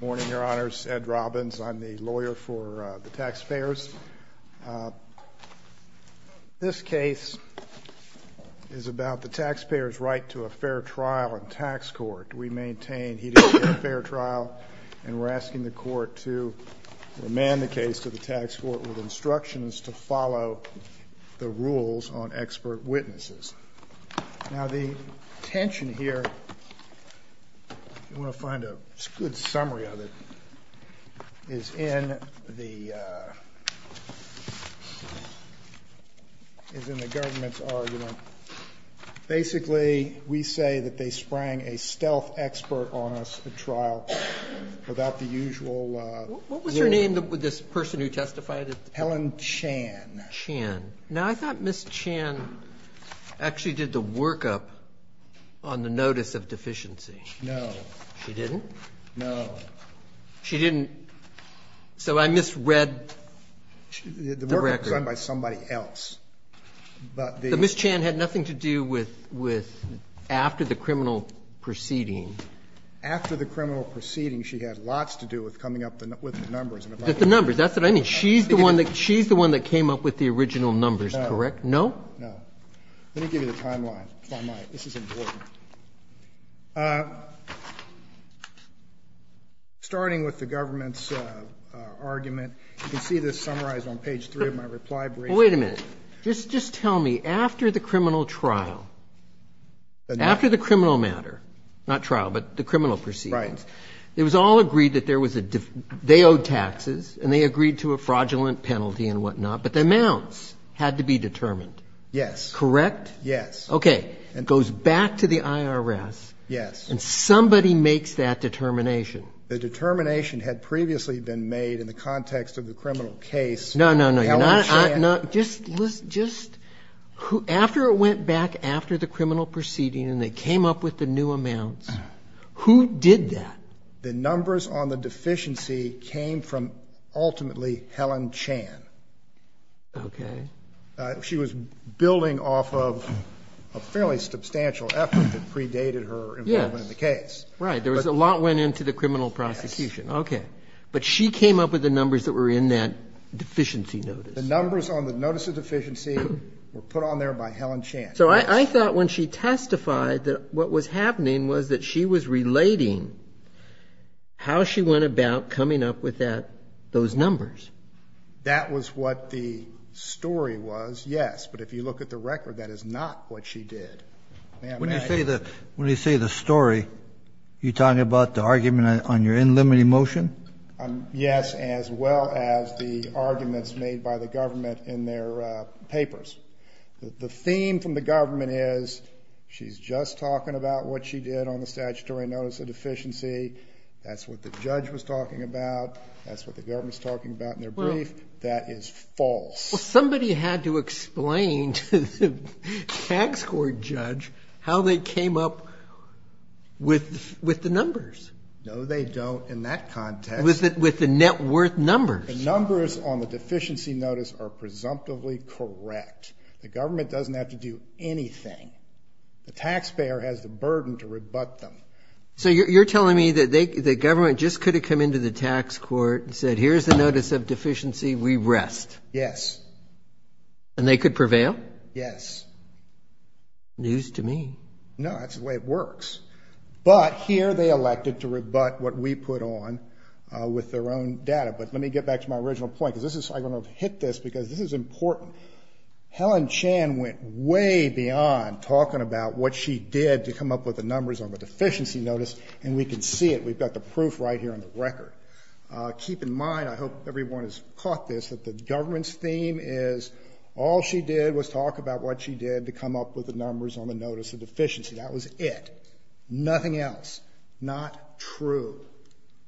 Morning, Your Honors. Ed Robbins. I'm the lawyer for the taxpayers. This case is about the taxpayer's right to a fair trial in tax court. We maintain he didn't get a fair trial and we're asking the court to remand the case to the tax court with instructions to follow the rules on expert witnesses. Now the tension here, if you want to find a good summary of it, is in the government's argument. Basically we say that they sprang a stealth expert on us at trial without the usual... What was her name, this person who testified? Helen Chan. Now, I thought Ms. Chan actually did the workup on the notice of deficiency. No. She didn't? No. She didn't. So I misread the record. The workup was done by somebody else. But Ms. Chan had nothing to do with after the criminal proceeding. After the criminal proceeding, she had lots to do with coming up with the numbers. The numbers, that's what I mean. She's the one that came up with the original numbers, correct? No? No. Let me give you the timeline, if I might. This is important. Starting with the government's argument, you can see this summarized on page three of my reply brief. Wait a minute. Just tell me, after the criminal trial, after the criminal matter, not trial, but the criminal proceedings, it was all agreed that there would be taxes, and they agreed to a fraudulent penalty and whatnot, but the amounts had to be determined. Yes. Correct? Yes. Okay. It goes back to the IRS, and somebody makes that determination. The determination had previously been made in the context of the criminal case. No, no, no. Just... After it went back after the criminal proceeding, and they came up with the new amounts, who did that? The numbers on the deficiency came from, ultimately, Helen Chan. Okay. She was building off of a fairly substantial effort that predated her involvement in the case. Right. A lot went into the criminal prosecution. Okay. But she came up with the numbers that were in that deficiency notice. The numbers on the notice of deficiency were put on there by Helen Chan. So I thought when she testified that what was happening was that she was relating how she went about coming up with that, those numbers. That was what the story was, yes. But if you look at the record, that is not what she did. When you say the story, you're talking about the argument on your unlimited motion? Yes, as well as the arguments made by the government in their papers. The theme from the government is, she's just talking about what she did on the statutory notice of deficiency. That's what the judge was talking about. That's what the government's talking about in their brief. That is false. Well, somebody had to explain to the tax court judge how they came up with the numbers. No, they don't in that context. With the net worth numbers. The numbers on the deficiency notice are presumptively correct. The government doesn't have to do anything. The taxpayer has the burden to rebut them. So you're telling me that the government just could have come into the tax court and said, here's the notice of deficiency, we rest? Yes. And they could prevail? Yes. News to me. No, that's the way it works. But here they elected to rebut what we put on with their own data. But let me get back to my original point, because this is, I don't I went way beyond talking about what she did to come up with the numbers on the deficiency notice, and we can see it. We've got the proof right here on the record. Keep in mind, I hope everyone has caught this, that the government's theme is all she did was talk about what she did to come up with the numbers on the notice of deficiency. That was it. Nothing else. Not true.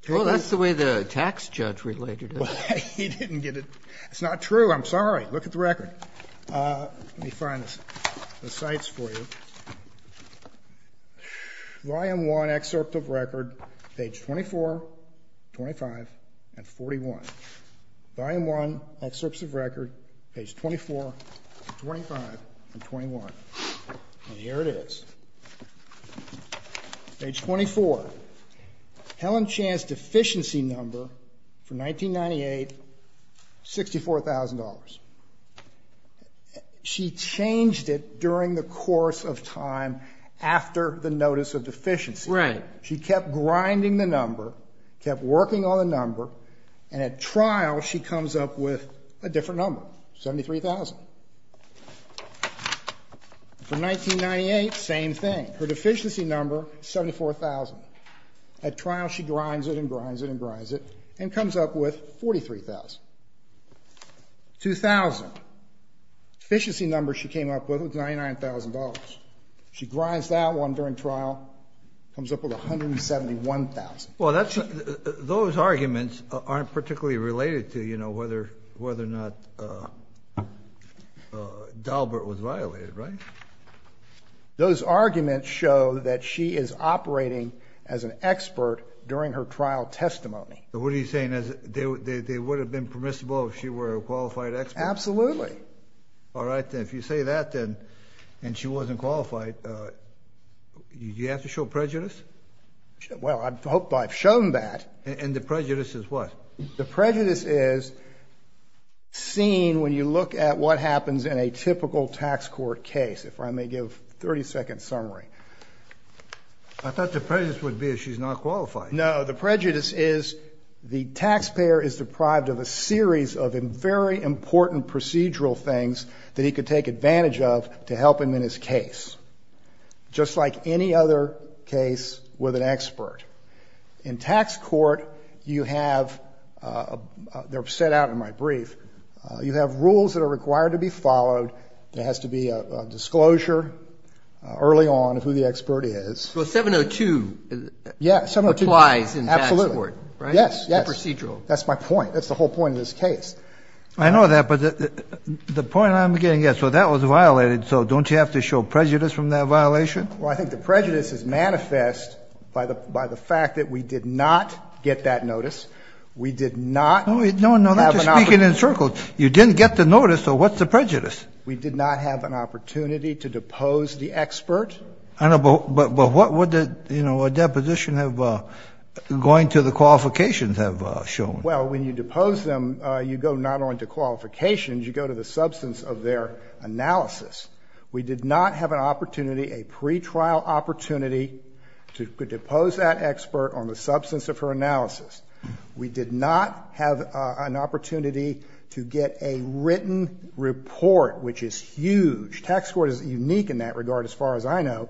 Well, that's the way the tax judge related it. He didn't get it. It's not true. I'm sorry. Look at the record. Let me find the cites for you. Volume 1, excerpt of record, page 24, 25, and 41. Volume 1, excerpts of record, page 24, 25, and 21. And here it is. Page 24. Helen Chan's deficiency number for 1998, $64,000. She changed it during the course of time after the notice of deficiency. Right. She kept grinding the number, kept working on the number, and at trial she comes up with a different number, $73,000. For 1998, same thing. Her deficiency number, $74,000. At trial, she grinds it and grinds it and grinds it and comes up with $43,000. 2000, deficiency number she came up with was $99,000. She grinds that one during trial, comes up with $171,000. Well, that's, those arguments aren't particularly related to, you know, whether or not Dalbert was violated, right? Those arguments show that she is operating as an expert during her trial testimony. So what are you saying, they would have been permissible if she were a qualified expert? Absolutely. All right, if you say that then, and she wasn't qualified, do you have to show prejudice? Well, I hope I've shown that. And the prejudice is what? The prejudice is seen when you look at what happens in a typical tax court case. If I may give a 30-second summary. I thought the prejudice would be if she's not qualified. No, the prejudice is the taxpayer is deprived of a series of very important procedural things that he could take advantage of to help him in his case, just like any other case with an expert. In tax court, you have, they're set out in my brief, you have rules that are required to be followed. There has to be a disclosure early on of who the expert is. So 702. Yeah, 702. Applies in tax court, right? Yes, yes. Procedural. That's my point. That's the whole point of this case. I know that, but the point I'm getting at, so that was violated, so don't you have to show prejudice? The prejudice is manifest by the fact that we did not get that notice. We did not have an opportunity. No, no, we're just speaking in circles. You didn't get the notice, so what's the prejudice? We did not have an opportunity to depose the expert. I know, but what would the, you know, a deposition have, going to the qualifications have shown? Well, when you depose them, you go not only to qualifications. You go to the substance of their analysis. We did not have an opportunity, a pretrial opportunity to depose that expert on the substance of her analysis. We did not have an opportunity to get a written report, which is huge. Tax court is unique in that regard as far as I know.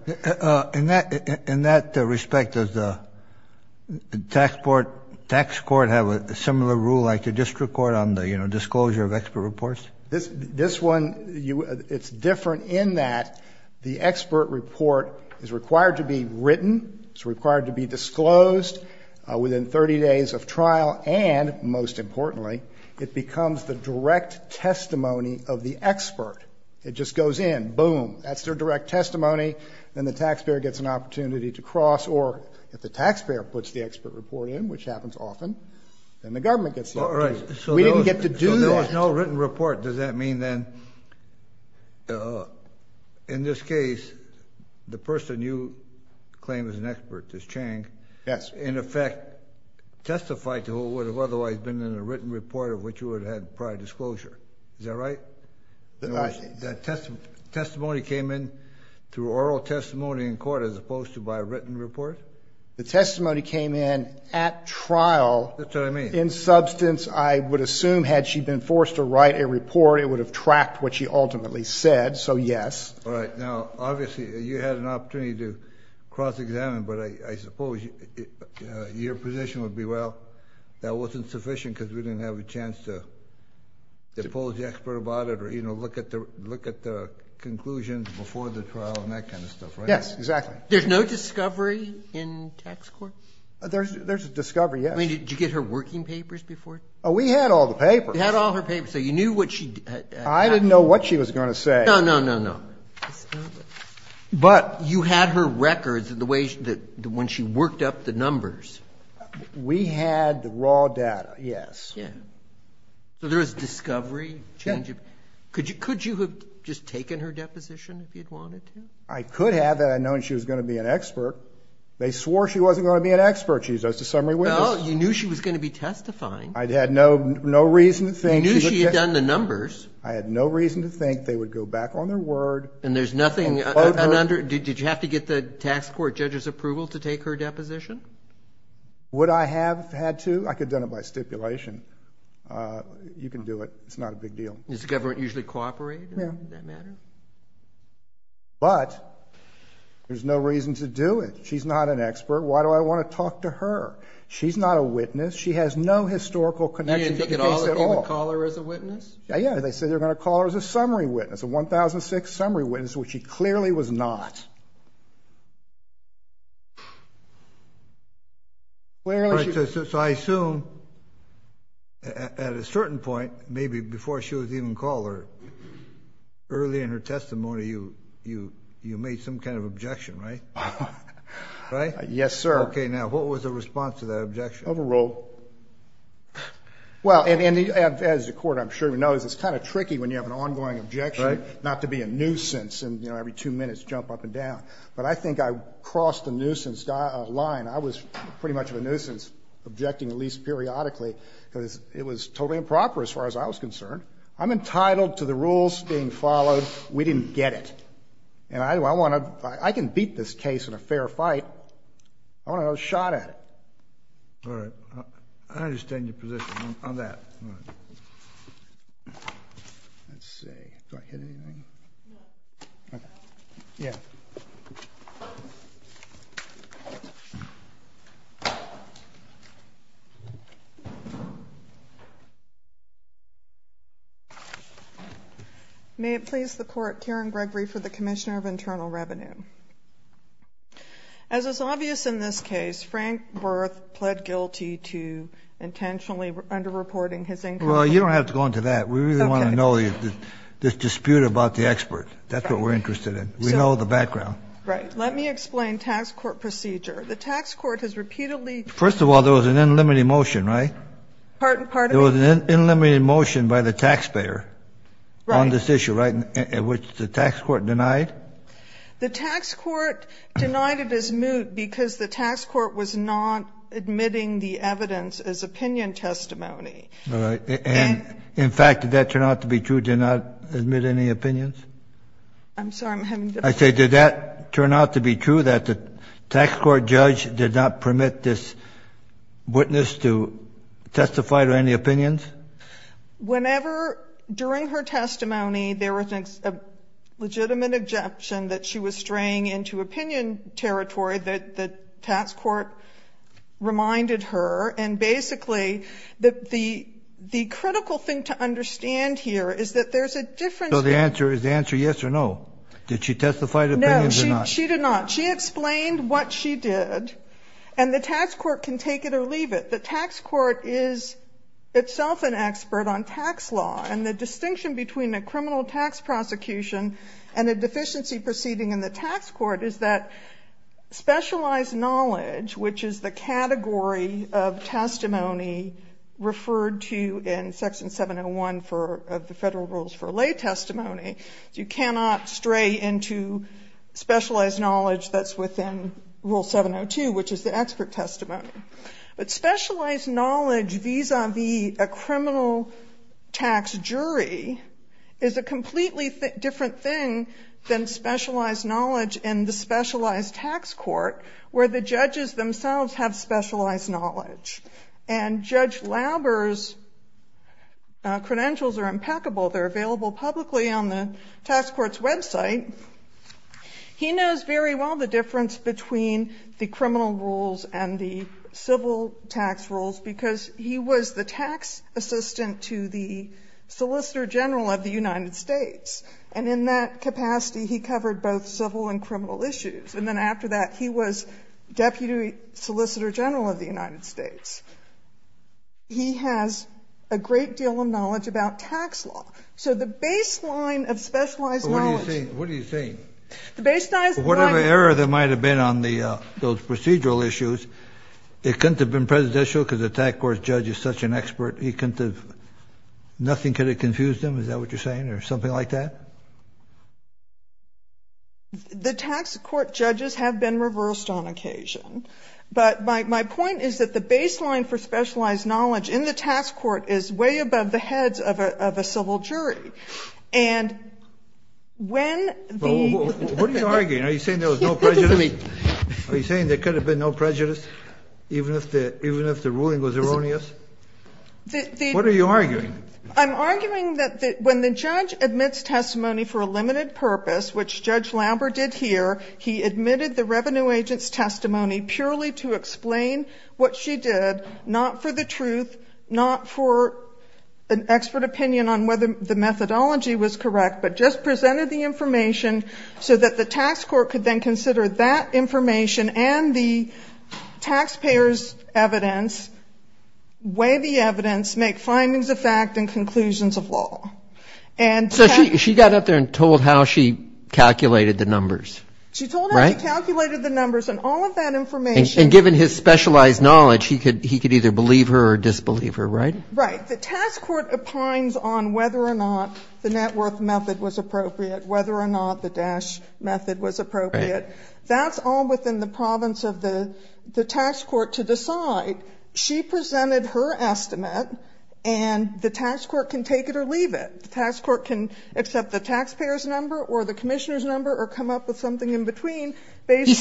In that respect, does the tax court have a similar rule like the district court on the, you know, disclosure of expert reports? This one, it's different in that the expert report is required to be written, it's required to be disclosed within 30 days of trial, and most importantly, it becomes the direct testimony of the expert. It just goes in, boom, that's their direct testimony, then the taxpayer gets an opportunity to cross, or if the taxpayer puts the expert report in, which happens often, then the government gets the opportunity. We didn't get to do that. If there was no written report, does that mean then, in this case, the person you claim is an expert, is Chang. Yes. In effect, testified to who would have otherwise been in a written report of which you would have had prior disclosure. Is that right? That's right. The testimony came in through oral testimony in court as opposed to by a written report? The testimony came in at trial. That's what I mean. In substance, I would assume, had she been forced to write a report, it would have tracked what she ultimately said, so yes. All right. Now, obviously, you had an opportunity to cross-examine, but I suppose your position would be, well, that wasn't sufficient because we didn't have a chance to depose the expert about it, or, you know, look at the conclusions before the trial and that kind of stuff, right? Yes, exactly. There's no discovery in tax court? There's a discovery, yes. I mean, did you get her working papers before? Oh, we had all the papers. You had all her papers, so you knew what she had to say. I didn't know what she was going to say. No, no, no, no. But you had her records, the way that when she worked up the numbers. We had the raw data, yes. Yeah. So there was discovery, change of... Yeah. Could you have just taken her deposition if you'd wanted to? I could have that I'd known she was going to be an expert. They swore she wasn't going to be an expert. She's just a summary witness. Well, you knew she was going to be testifying. I had no reason to think... You knew she had done the numbers. I had no reason to think they would go back on their word. And there's nothing... Did you have to get the tax court judge's approval to take her deposition? Would I have had to? I could have done it by stipulation. You can do it. It's not a big deal. Does the government usually cooperate in that matter? Yeah. But there's no reason to do it. She's not an expert. Why do I want to talk to her? She's not a witness. She has no historical connection to the case at all. You didn't think at all that they would call her as a witness? Yeah, they said they were going to call her as a summary witness, a 1006 summary witness, which she clearly was not. Clearly she... So I assume at a certain point, maybe before she was even called, early in her testimony, you made some kind of objection, right? Right? Yes, sir. Okay. Now, what was the response to that objection? Overruled. Well, as the court, I'm sure, knows it's kind of tricky when you have an ongoing objection not to be a nuisance and every two minutes jump up and down. But I think I crossed the nuisance line. I was pretty much of a nuisance objecting at least periodically because it was totally improper as far as I was concerned. I'm entitled to the rules being followed. We didn't get it. And I want to, I can beat this case in a fair fight. I want to have a shot at it. All right. I understand your position on that. May it please the court, Karen Gregory for the Commissioner of Internal Revenue. As is obvious in this case, Frank Berth pled guilty to intentionally under-reporting his income. Well, you don't have to go into that. We really want to know this dispute about the expert. That's what we're interested in. We know the background. Right. Let me explain tax court procedure. The tax court has repeatedly... First of all, there was an unlimited motion, right? Pardon, pardon me? There was an unlimited motion by the taxpayer on this issue, right? Which the tax court denied. The tax court denied it as moot because the tax court was not admitting the evidence as opinion testimony. All right. And in fact, did that turn out to be true, did it not admit any opinions? I'm sorry, I'm having difficulty... I say, did that turn out to be true, that the tax court judge did not permit this witness to testify to any opinions? Whenever, during her testimony, there was a legitimate objection. That she was straying into opinion territory that the tax court reminded her. And basically, the critical thing to understand here is that there's a difference... So the answer is yes or no? Did she testify to opinions or not? No, she did not. She explained what she did. And the tax court can take it or leave it. The tax court is itself an expert on tax law. And the distinction between a criminal tax prosecution and a deficiency proceeding in the tax court is that specialized knowledge, which is the category of testimony referred to in Section 701 of the Federal Rules for Lay Testimony, you cannot stray into specialized knowledge that's within Rule 702, which is the expert testimony. But specialized knowledge vis-a-vis a criminal tax jury is a completely different thing than specialized knowledge in the specialized tax court, where the judges themselves have specialized knowledge. And Judge Lauber's credentials are impeccable. They're available publicly on the tax court's website. He knows very well the difference between the criminal rules and the civil tax rules because he was the tax assistant to the Solicitor General of the United States. And in that capacity, he covered both civil and criminal issues. And then after that, he was Deputy Solicitor General of the United States. He has a great deal of knowledge about tax law. So the baseline of specialized knowledge... It couldn't have been prejudicial because the tax court judge is such an expert. He couldn't have... Nothing could have confused him, is that what you're saying, or something like that? The tax court judges have been reversed on occasion. But my point is that the baseline for specialized knowledge in the tax court is way above the heads of a civil jury. And when the... What are you arguing? Are you saying there was no prejudice? Are you saying there could have been no prejudice even if the ruling was erroneous? What are you arguing? I'm arguing that when the judge admits testimony for a limited purpose, which Judge Lauber did here, he admitted the revenue agent's testimony purely to explain what she did, not for the truth, not for an expert opinion on whether the methodology was correct, but just presented the information so that the tax court could then consider that information and the taxpayer's evidence, weigh the evidence, make findings of fact and conclusions of law. And... So she got up there and told how she calculated the numbers, right? She told how she calculated the numbers and all of that information... And given his specialized knowledge, he could either believe her or disbelieve her, right? Right. The tax court opines on whether or not the net worth method was appropriate, whether or not the dash method was appropriate. Right. That's all within the province of the tax court to decide. She presented her estimate, and the tax court can take it or leave it. The tax court can accept the taxpayer's number or the commissioner's number or come up with something in between based on...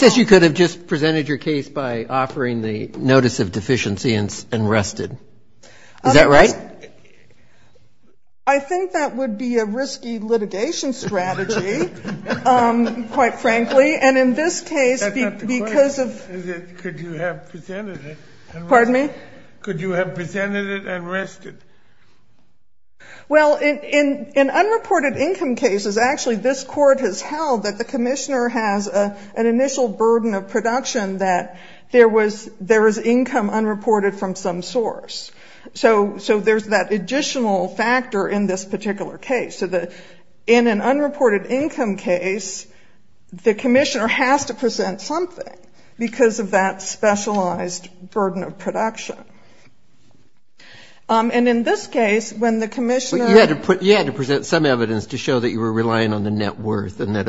Is that right? I think that would be a risky litigation strategy, quite frankly. And in this case, because of... That's not the question. Could you have presented it? Pardon me? Could you have presented it and rested? Well, in unreported income cases, actually, this court has held that the commissioner has an initial burden of production that there was income unreported from some source. So there's that additional factor in this particular case. So in an unreported income case, the commissioner has to present something because of that specialized burden of production. And in this case, when the commissioner... But you had to present some evidence to show that you were relying on the net worth and that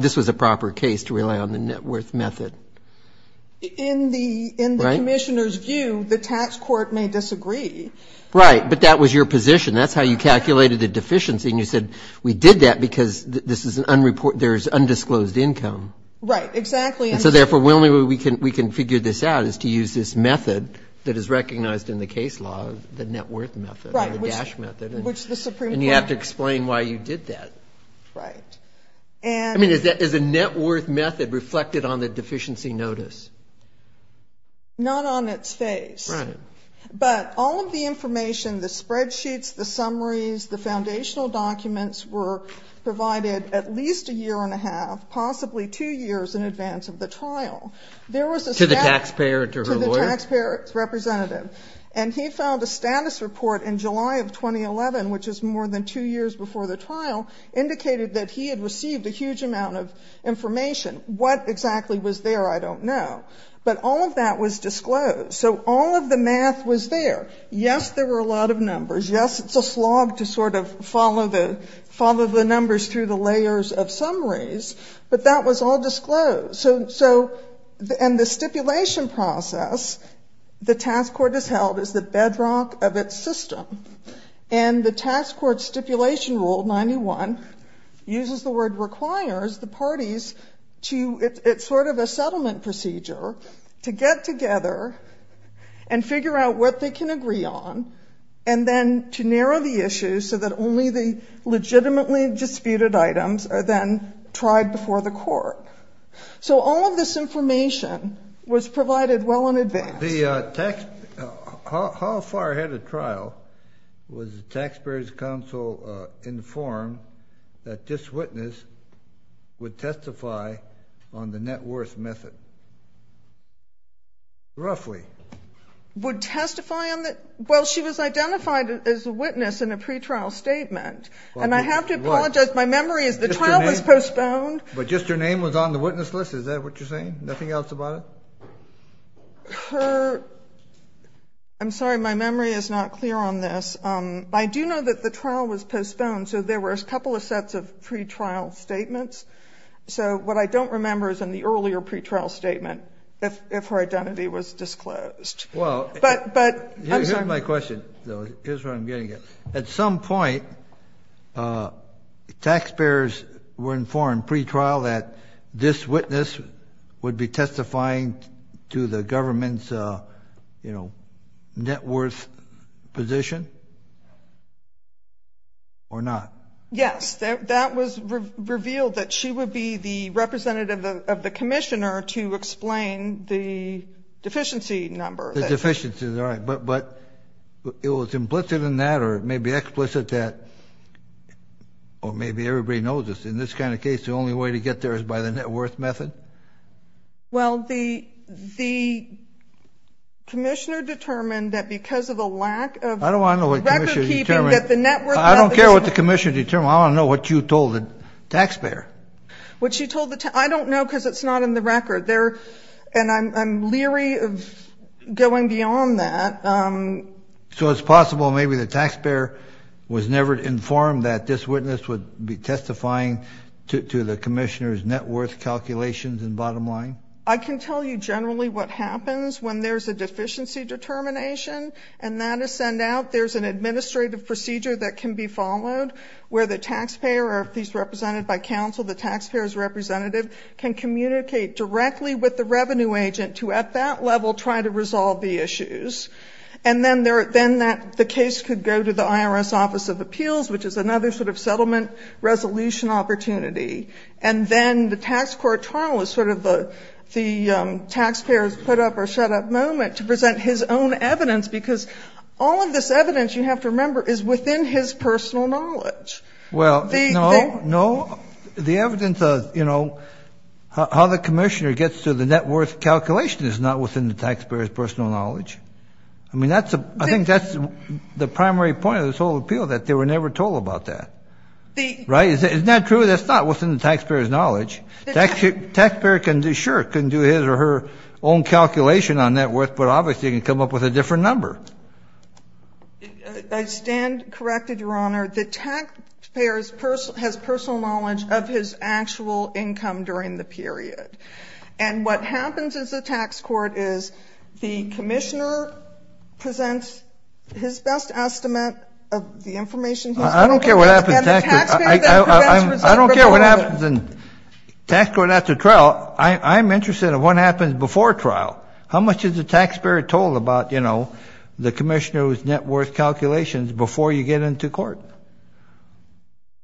this was a proper case to rely on the net worth method. In the commissioner's view, the tax court may disagree. Right. But that was your position. That's how you calculated the deficiency. And you said we did that because there's undisclosed income. Right. Exactly. And so therefore, the only way we can figure this out is to use this method that is recognized in the case law, the net worth method, the DASH method. And you have to explain why you did that. Right. I mean, is a net worth method reflected on the deficiency notice? Not on its face. Right. But all of the information, the spreadsheets, the summaries, the foundational documents were provided at least a year and a half, possibly two years in advance of the trial. To the taxpayer, to her lawyer? To the taxpayer representative. And he filed a status report in July of 2011, which is more than two years before the trial, indicated that he had received a huge amount of information. What exactly was there, I don't know. But all of that was disclosed. So all of the math was there. Yes, there were a lot of numbers. Yes, it's a slog to sort of follow the numbers through the layers of summaries. But that was all disclosed. And the stipulation process, the task court has held, is the bedrock of its system. And the task court stipulation rule, 91, uses the word requires the parties to, it's sort of a settlement procedure, to get together and figure out what they can agree on and then to narrow the issues so that only the legitimately disputed items are then tried before the court. So all of this information was provided well in advance. How far ahead of trial was the Taxpayers' Council informed that this witness would testify on the net worth method? Roughly. Would testify on the, well, she was identified as a witness in a pretrial statement. And I have to apologize, my memory is the trial was postponed. But just her name was on the witness list, is that what you're saying? Nothing else about it? Her, I'm sorry, my memory is not clear on this. I do know that the trial was postponed, so there were a couple of sets of pretrial statements. So what I don't remember is in the earlier pretrial statement, if her identity was disclosed. Well, here's my question, though, here's where I'm getting at. At some point, taxpayers were informed pretrial that this witness would be testifying to the government's net worth position or not? Yes, that was revealed that she would be the representative of the commissioner to explain the deficiency number. But it was implicit in that or maybe explicit that, or maybe everybody knows this, in this kind of case the only way to get there is by the net worth method? Well, the commissioner determined that because of a lack of record keeping that the net worth method. I don't care what the commissioner determined, I want to know what you told the taxpayer. What she told the, I don't know because it's not in the record. And I'm leery of going beyond that. So it's possible maybe the taxpayer was never informed that this witness would be testifying to the commissioner's net worth calculations and bottom line? I can tell you generally what happens when there's a deficiency determination and that is sent out, there's an administrative procedure that can be followed where the taxpayer, or if he's represented by counsel, the taxpayer's representative, can communicate directly with the revenue agent to at that level try to resolve the issues. And then the case could go to the IRS Office of Appeals, which is another sort of settlement resolution opportunity. And then the tax court trial is sort of the taxpayer's put up or shut up moment to present his own evidence, because all of this evidence, you have to remember, is within his personal knowledge. Well, no. The evidence of how the commissioner gets to the net worth calculation is not within the taxpayer's personal knowledge. I mean, I think that's the primary point of this whole appeal, that they were never told about that. Right? Isn't that true? That's not within the taxpayer's knowledge. Taxpayer can, sure, can do his or her own calculation on net worth, but obviously can come up with a different number. I stand corrected, Your Honor. The taxpayer has personal knowledge of his actual income during the period. And what happens in the tax court is the commissioner presents his best estimate of the information he's going to get. I don't care what happens in tax court. And the taxpayer then presents resentment. I don't care what happens in tax court after trial. I'm interested in what happens before trial. How much is the taxpayer told about, you know, the commissioner's net worth calculations before you get into court?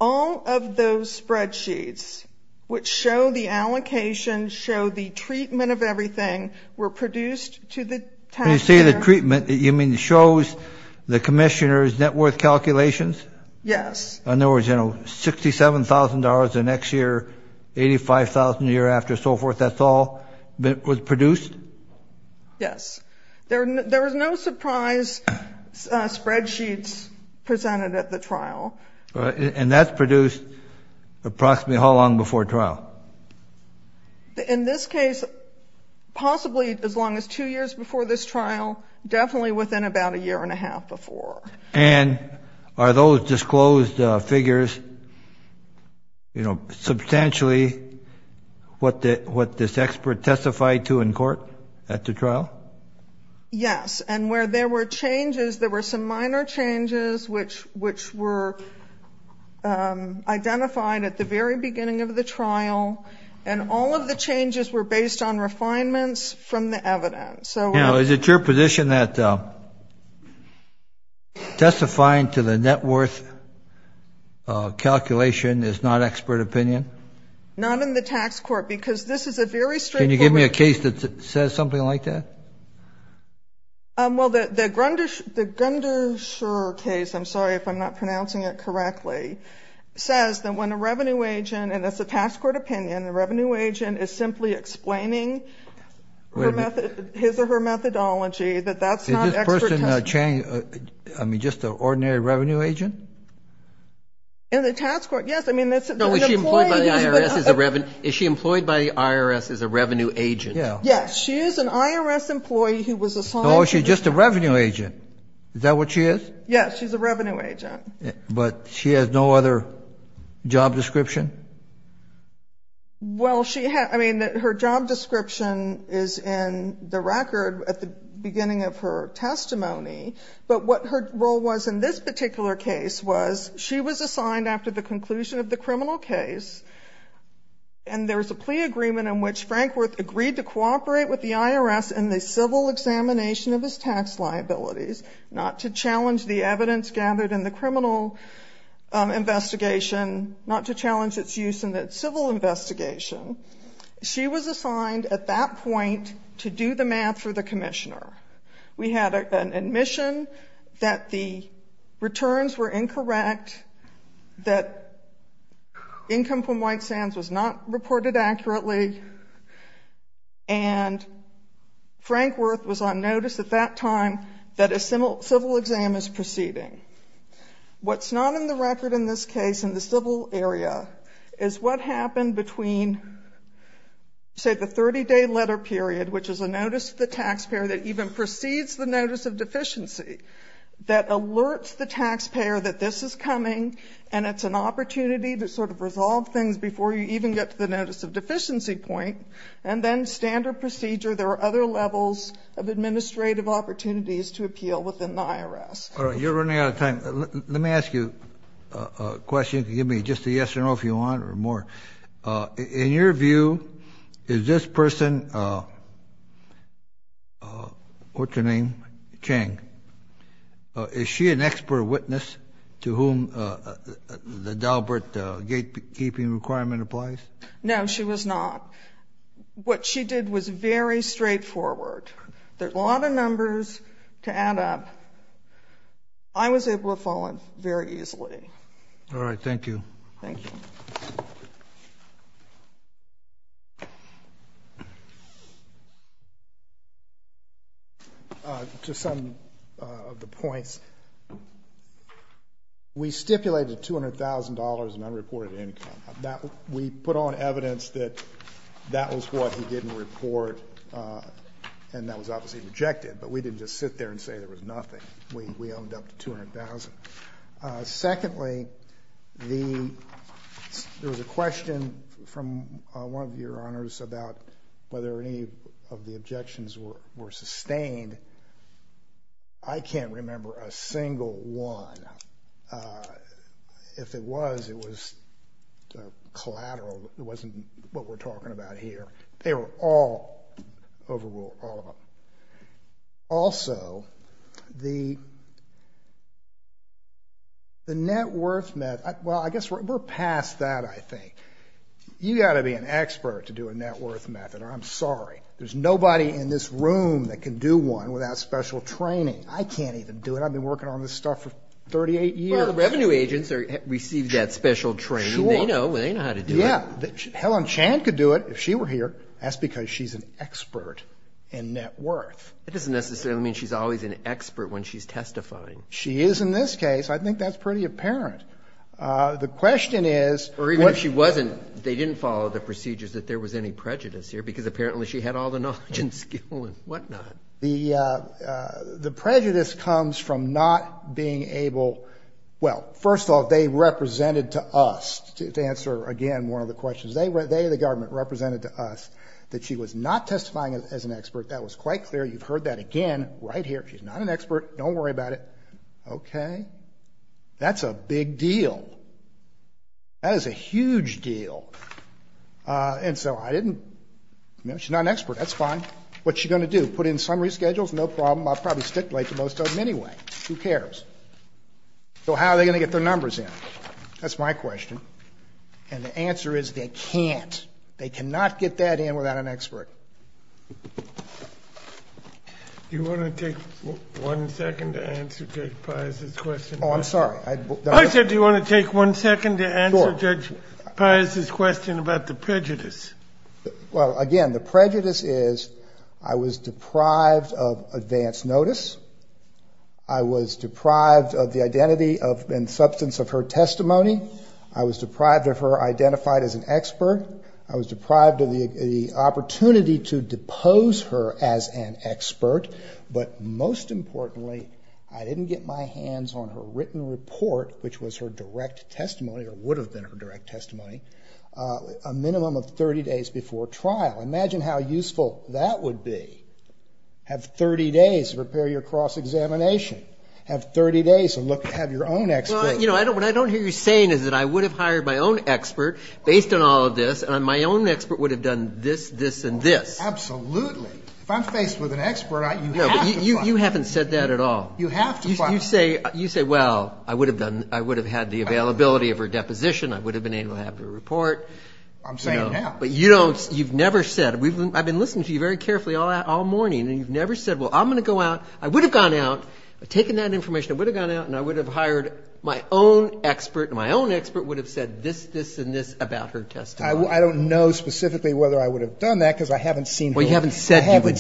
All of those spreadsheets, which show the allocation, show the treatment of everything, were produced to the taxpayer. When you say the treatment, you mean it shows the commissioner's net worth calculations? Yes. In other words, you know, $67,000 the next year, $85,000 the year after, so forth, that's all was produced? Yes. There was no surprise spreadsheets presented at the trial. And that's produced approximately how long before trial? In this case, possibly as long as two years before this trial, definitely within about a year and a half before. And are those disclosed figures, you know, substantially what this expert testified to in court at the trial? Yes. And where there were changes, there were some minor changes which were identified at the very beginning of the trial, and all of the changes were based on refinements from the evidence. Now, is it your position that testifying to the net worth calculation is not expert opinion? Not in the tax court, because this is a very straightforward case. Can you give me a case that says something like that? Well, the Grunderscher case, I'm sorry if I'm not pronouncing it correctly, says that when a revenue agent, and that's a tax court opinion, the revenue agent is simply explaining his or her methodology, that that's not expert testimony. Did this person change, I mean, just an ordinary revenue agent? In the tax court, yes. I mean, that's an employee. No, is she employed by the IRS as a revenue agent? Yes, she is an IRS employee who was assigned. Oh, she's just a revenue agent. Is that what she is? Yes, she's a revenue agent. But she has no other job description? Well, I mean, her job description is in the record at the beginning of her testimony, but what her role was in this particular case was she was assigned after the conclusion of the criminal case, and there was a plea agreement in which Frankworth agreed to cooperate with the IRS in the civil examination of his tax liabilities, not to challenge the evidence gathered in the criminal investigation, not to challenge its use in the civil investigation. She was assigned at that point to do the math for the commissioner. We had an admission that the returns were incorrect, that income from White Sands was not reported accurately, and Frankworth was on notice at that time that a civil exam is proceeding. What's not on the record in this case in the civil area is what happened between, say, the 30-day letter period, which is a notice to the taxpayer that even precedes the notice of deficiency, that alerts the taxpayer that this is coming and it's an opportunity to sort of resolve things before you even get to the notice of deficiency point, and then standard procedure. There are other levels of administrative opportunities to appeal within the IRS. All right, you're running out of time. Let me ask you a question. Give me just a yes or no if you want or more. In your view, is this person, what's her name, Chang, is she an expert witness to whom the Dalbert gatekeeping requirement applies? No, she was not. What she did was very straightforward. There are a lot of numbers to add up. I was able to follow it very easily. All right, thank you. Thank you. To some of the points, we stipulated $200,000 in unreported income. We put on evidence that that was what he didn't report, and that was obviously rejected, but we didn't just sit there and say there was nothing. Secondly, there was a question from one of your honors about whether any of the objections were sustained. I can't remember a single one. If it was, it was collateral. It wasn't what we're talking about here. They were all overruled, all of them. Also, the net worth, well, I guess we're past that, I think. You've got to be an expert to do a net worth method, or I'm sorry. There's nobody in this room that can do one without special training. I can't even do it. I've been working on this stuff for 38 years. Well, the revenue agents receive that special training. They know how to do it. Yeah. Helen Chan could do it if she were here. That's because she's an expert in net worth. That doesn't necessarily mean she's always an expert when she's testifying. She is in this case. I think that's pretty apparent. The question is. Or even if she wasn't, they didn't follow the procedures that there was any prejudice here, because apparently she had all the knowledge and skill and whatnot. The prejudice comes from not being able. Well, first of all, they represented to us, to answer, again, one of the questions. They, the government, represented to us that she was not testifying as an expert. That was quite clear. You've heard that again right here. She's not an expert. Don't worry about it. Okay. That's a big deal. That is a huge deal. And so I didn't. She's not an expert. That's fine. What's she going to do? Put in summary schedules? No problem. I'll probably stipulate to most of them anyway. Who cares? So how are they going to get their numbers in? That's my question. And the answer is they can't. They cannot get that in without an expert. Do you want to take one second to answer Judge Pius's question? Oh, I'm sorry. I said do you want to take one second to answer Judge Pius's question about the prejudice? Well, again, the prejudice is I was deprived of advance notice. I was deprived of the identity and substance of her testimony. I was deprived of her identified as an expert. I was deprived of the opportunity to depose her as an expert. But most importantly, I didn't get my hands on her written report, which was her direct testimony or would have been her direct testimony, a minimum of 30 days before trial. Imagine how useful that would be. Have 30 days to prepare your cross-examination. Have 30 days to have your own expert. Well, you know, what I don't hear you saying is that I would have hired my own expert based on all of this, and my own expert would have done this, this, and this. Absolutely. If I'm faced with an expert, you have to fire me. No, but you haven't said that at all. You have to fire me. You say, well, I would have had the availability of her deposition. I would have been able to have her report. I'm saying, yeah. But you've never said. I've been listening to you very carefully all morning, and you've never said, well, I'm going to go out. I would have gone out. I've taken that information. I would have gone out, and I would have hired my own expert, and my own expert would have said this, this, and this about her testimony. I don't know specifically whether I would have done that because I haven't seen her. Well, you haven't said you would do it.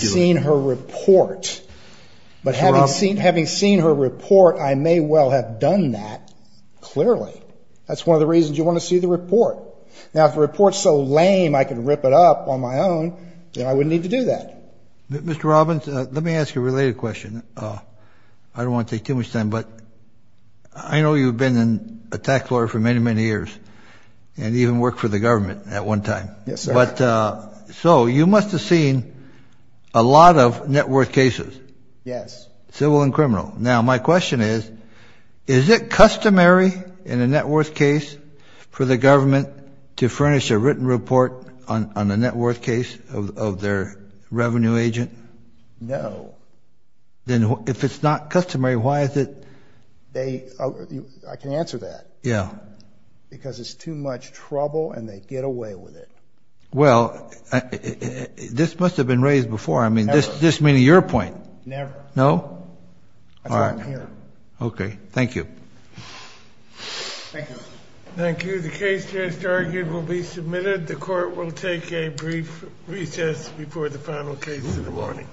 But having seen her report, I may well have done that clearly. That's one of the reasons you want to see the report. Now, if the report is so lame I can rip it up on my own, then I wouldn't need to do that. Mr. Robbins, let me ask you a related question. I don't want to take too much time, but I know you've been a tax lawyer for many, many years and even worked for the government at one time. Yes, sir. So you must have seen a lot of net worth cases. Yes. Civil and criminal. Now, my question is, is it customary in a net worth case for the government to furnish a written report on a net worth case of their revenue agent? No. Then if it's not customary, why is it? I can answer that. Yeah. Because it's too much trouble and they get away with it. Well, this must have been raised before. Never. I mean, this meeting your point. Never. No? That's why I'm here. Okay. Thank you. Thank you. Thank you. The case just argued will be submitted. The court will take a brief recess before the final case in the morning.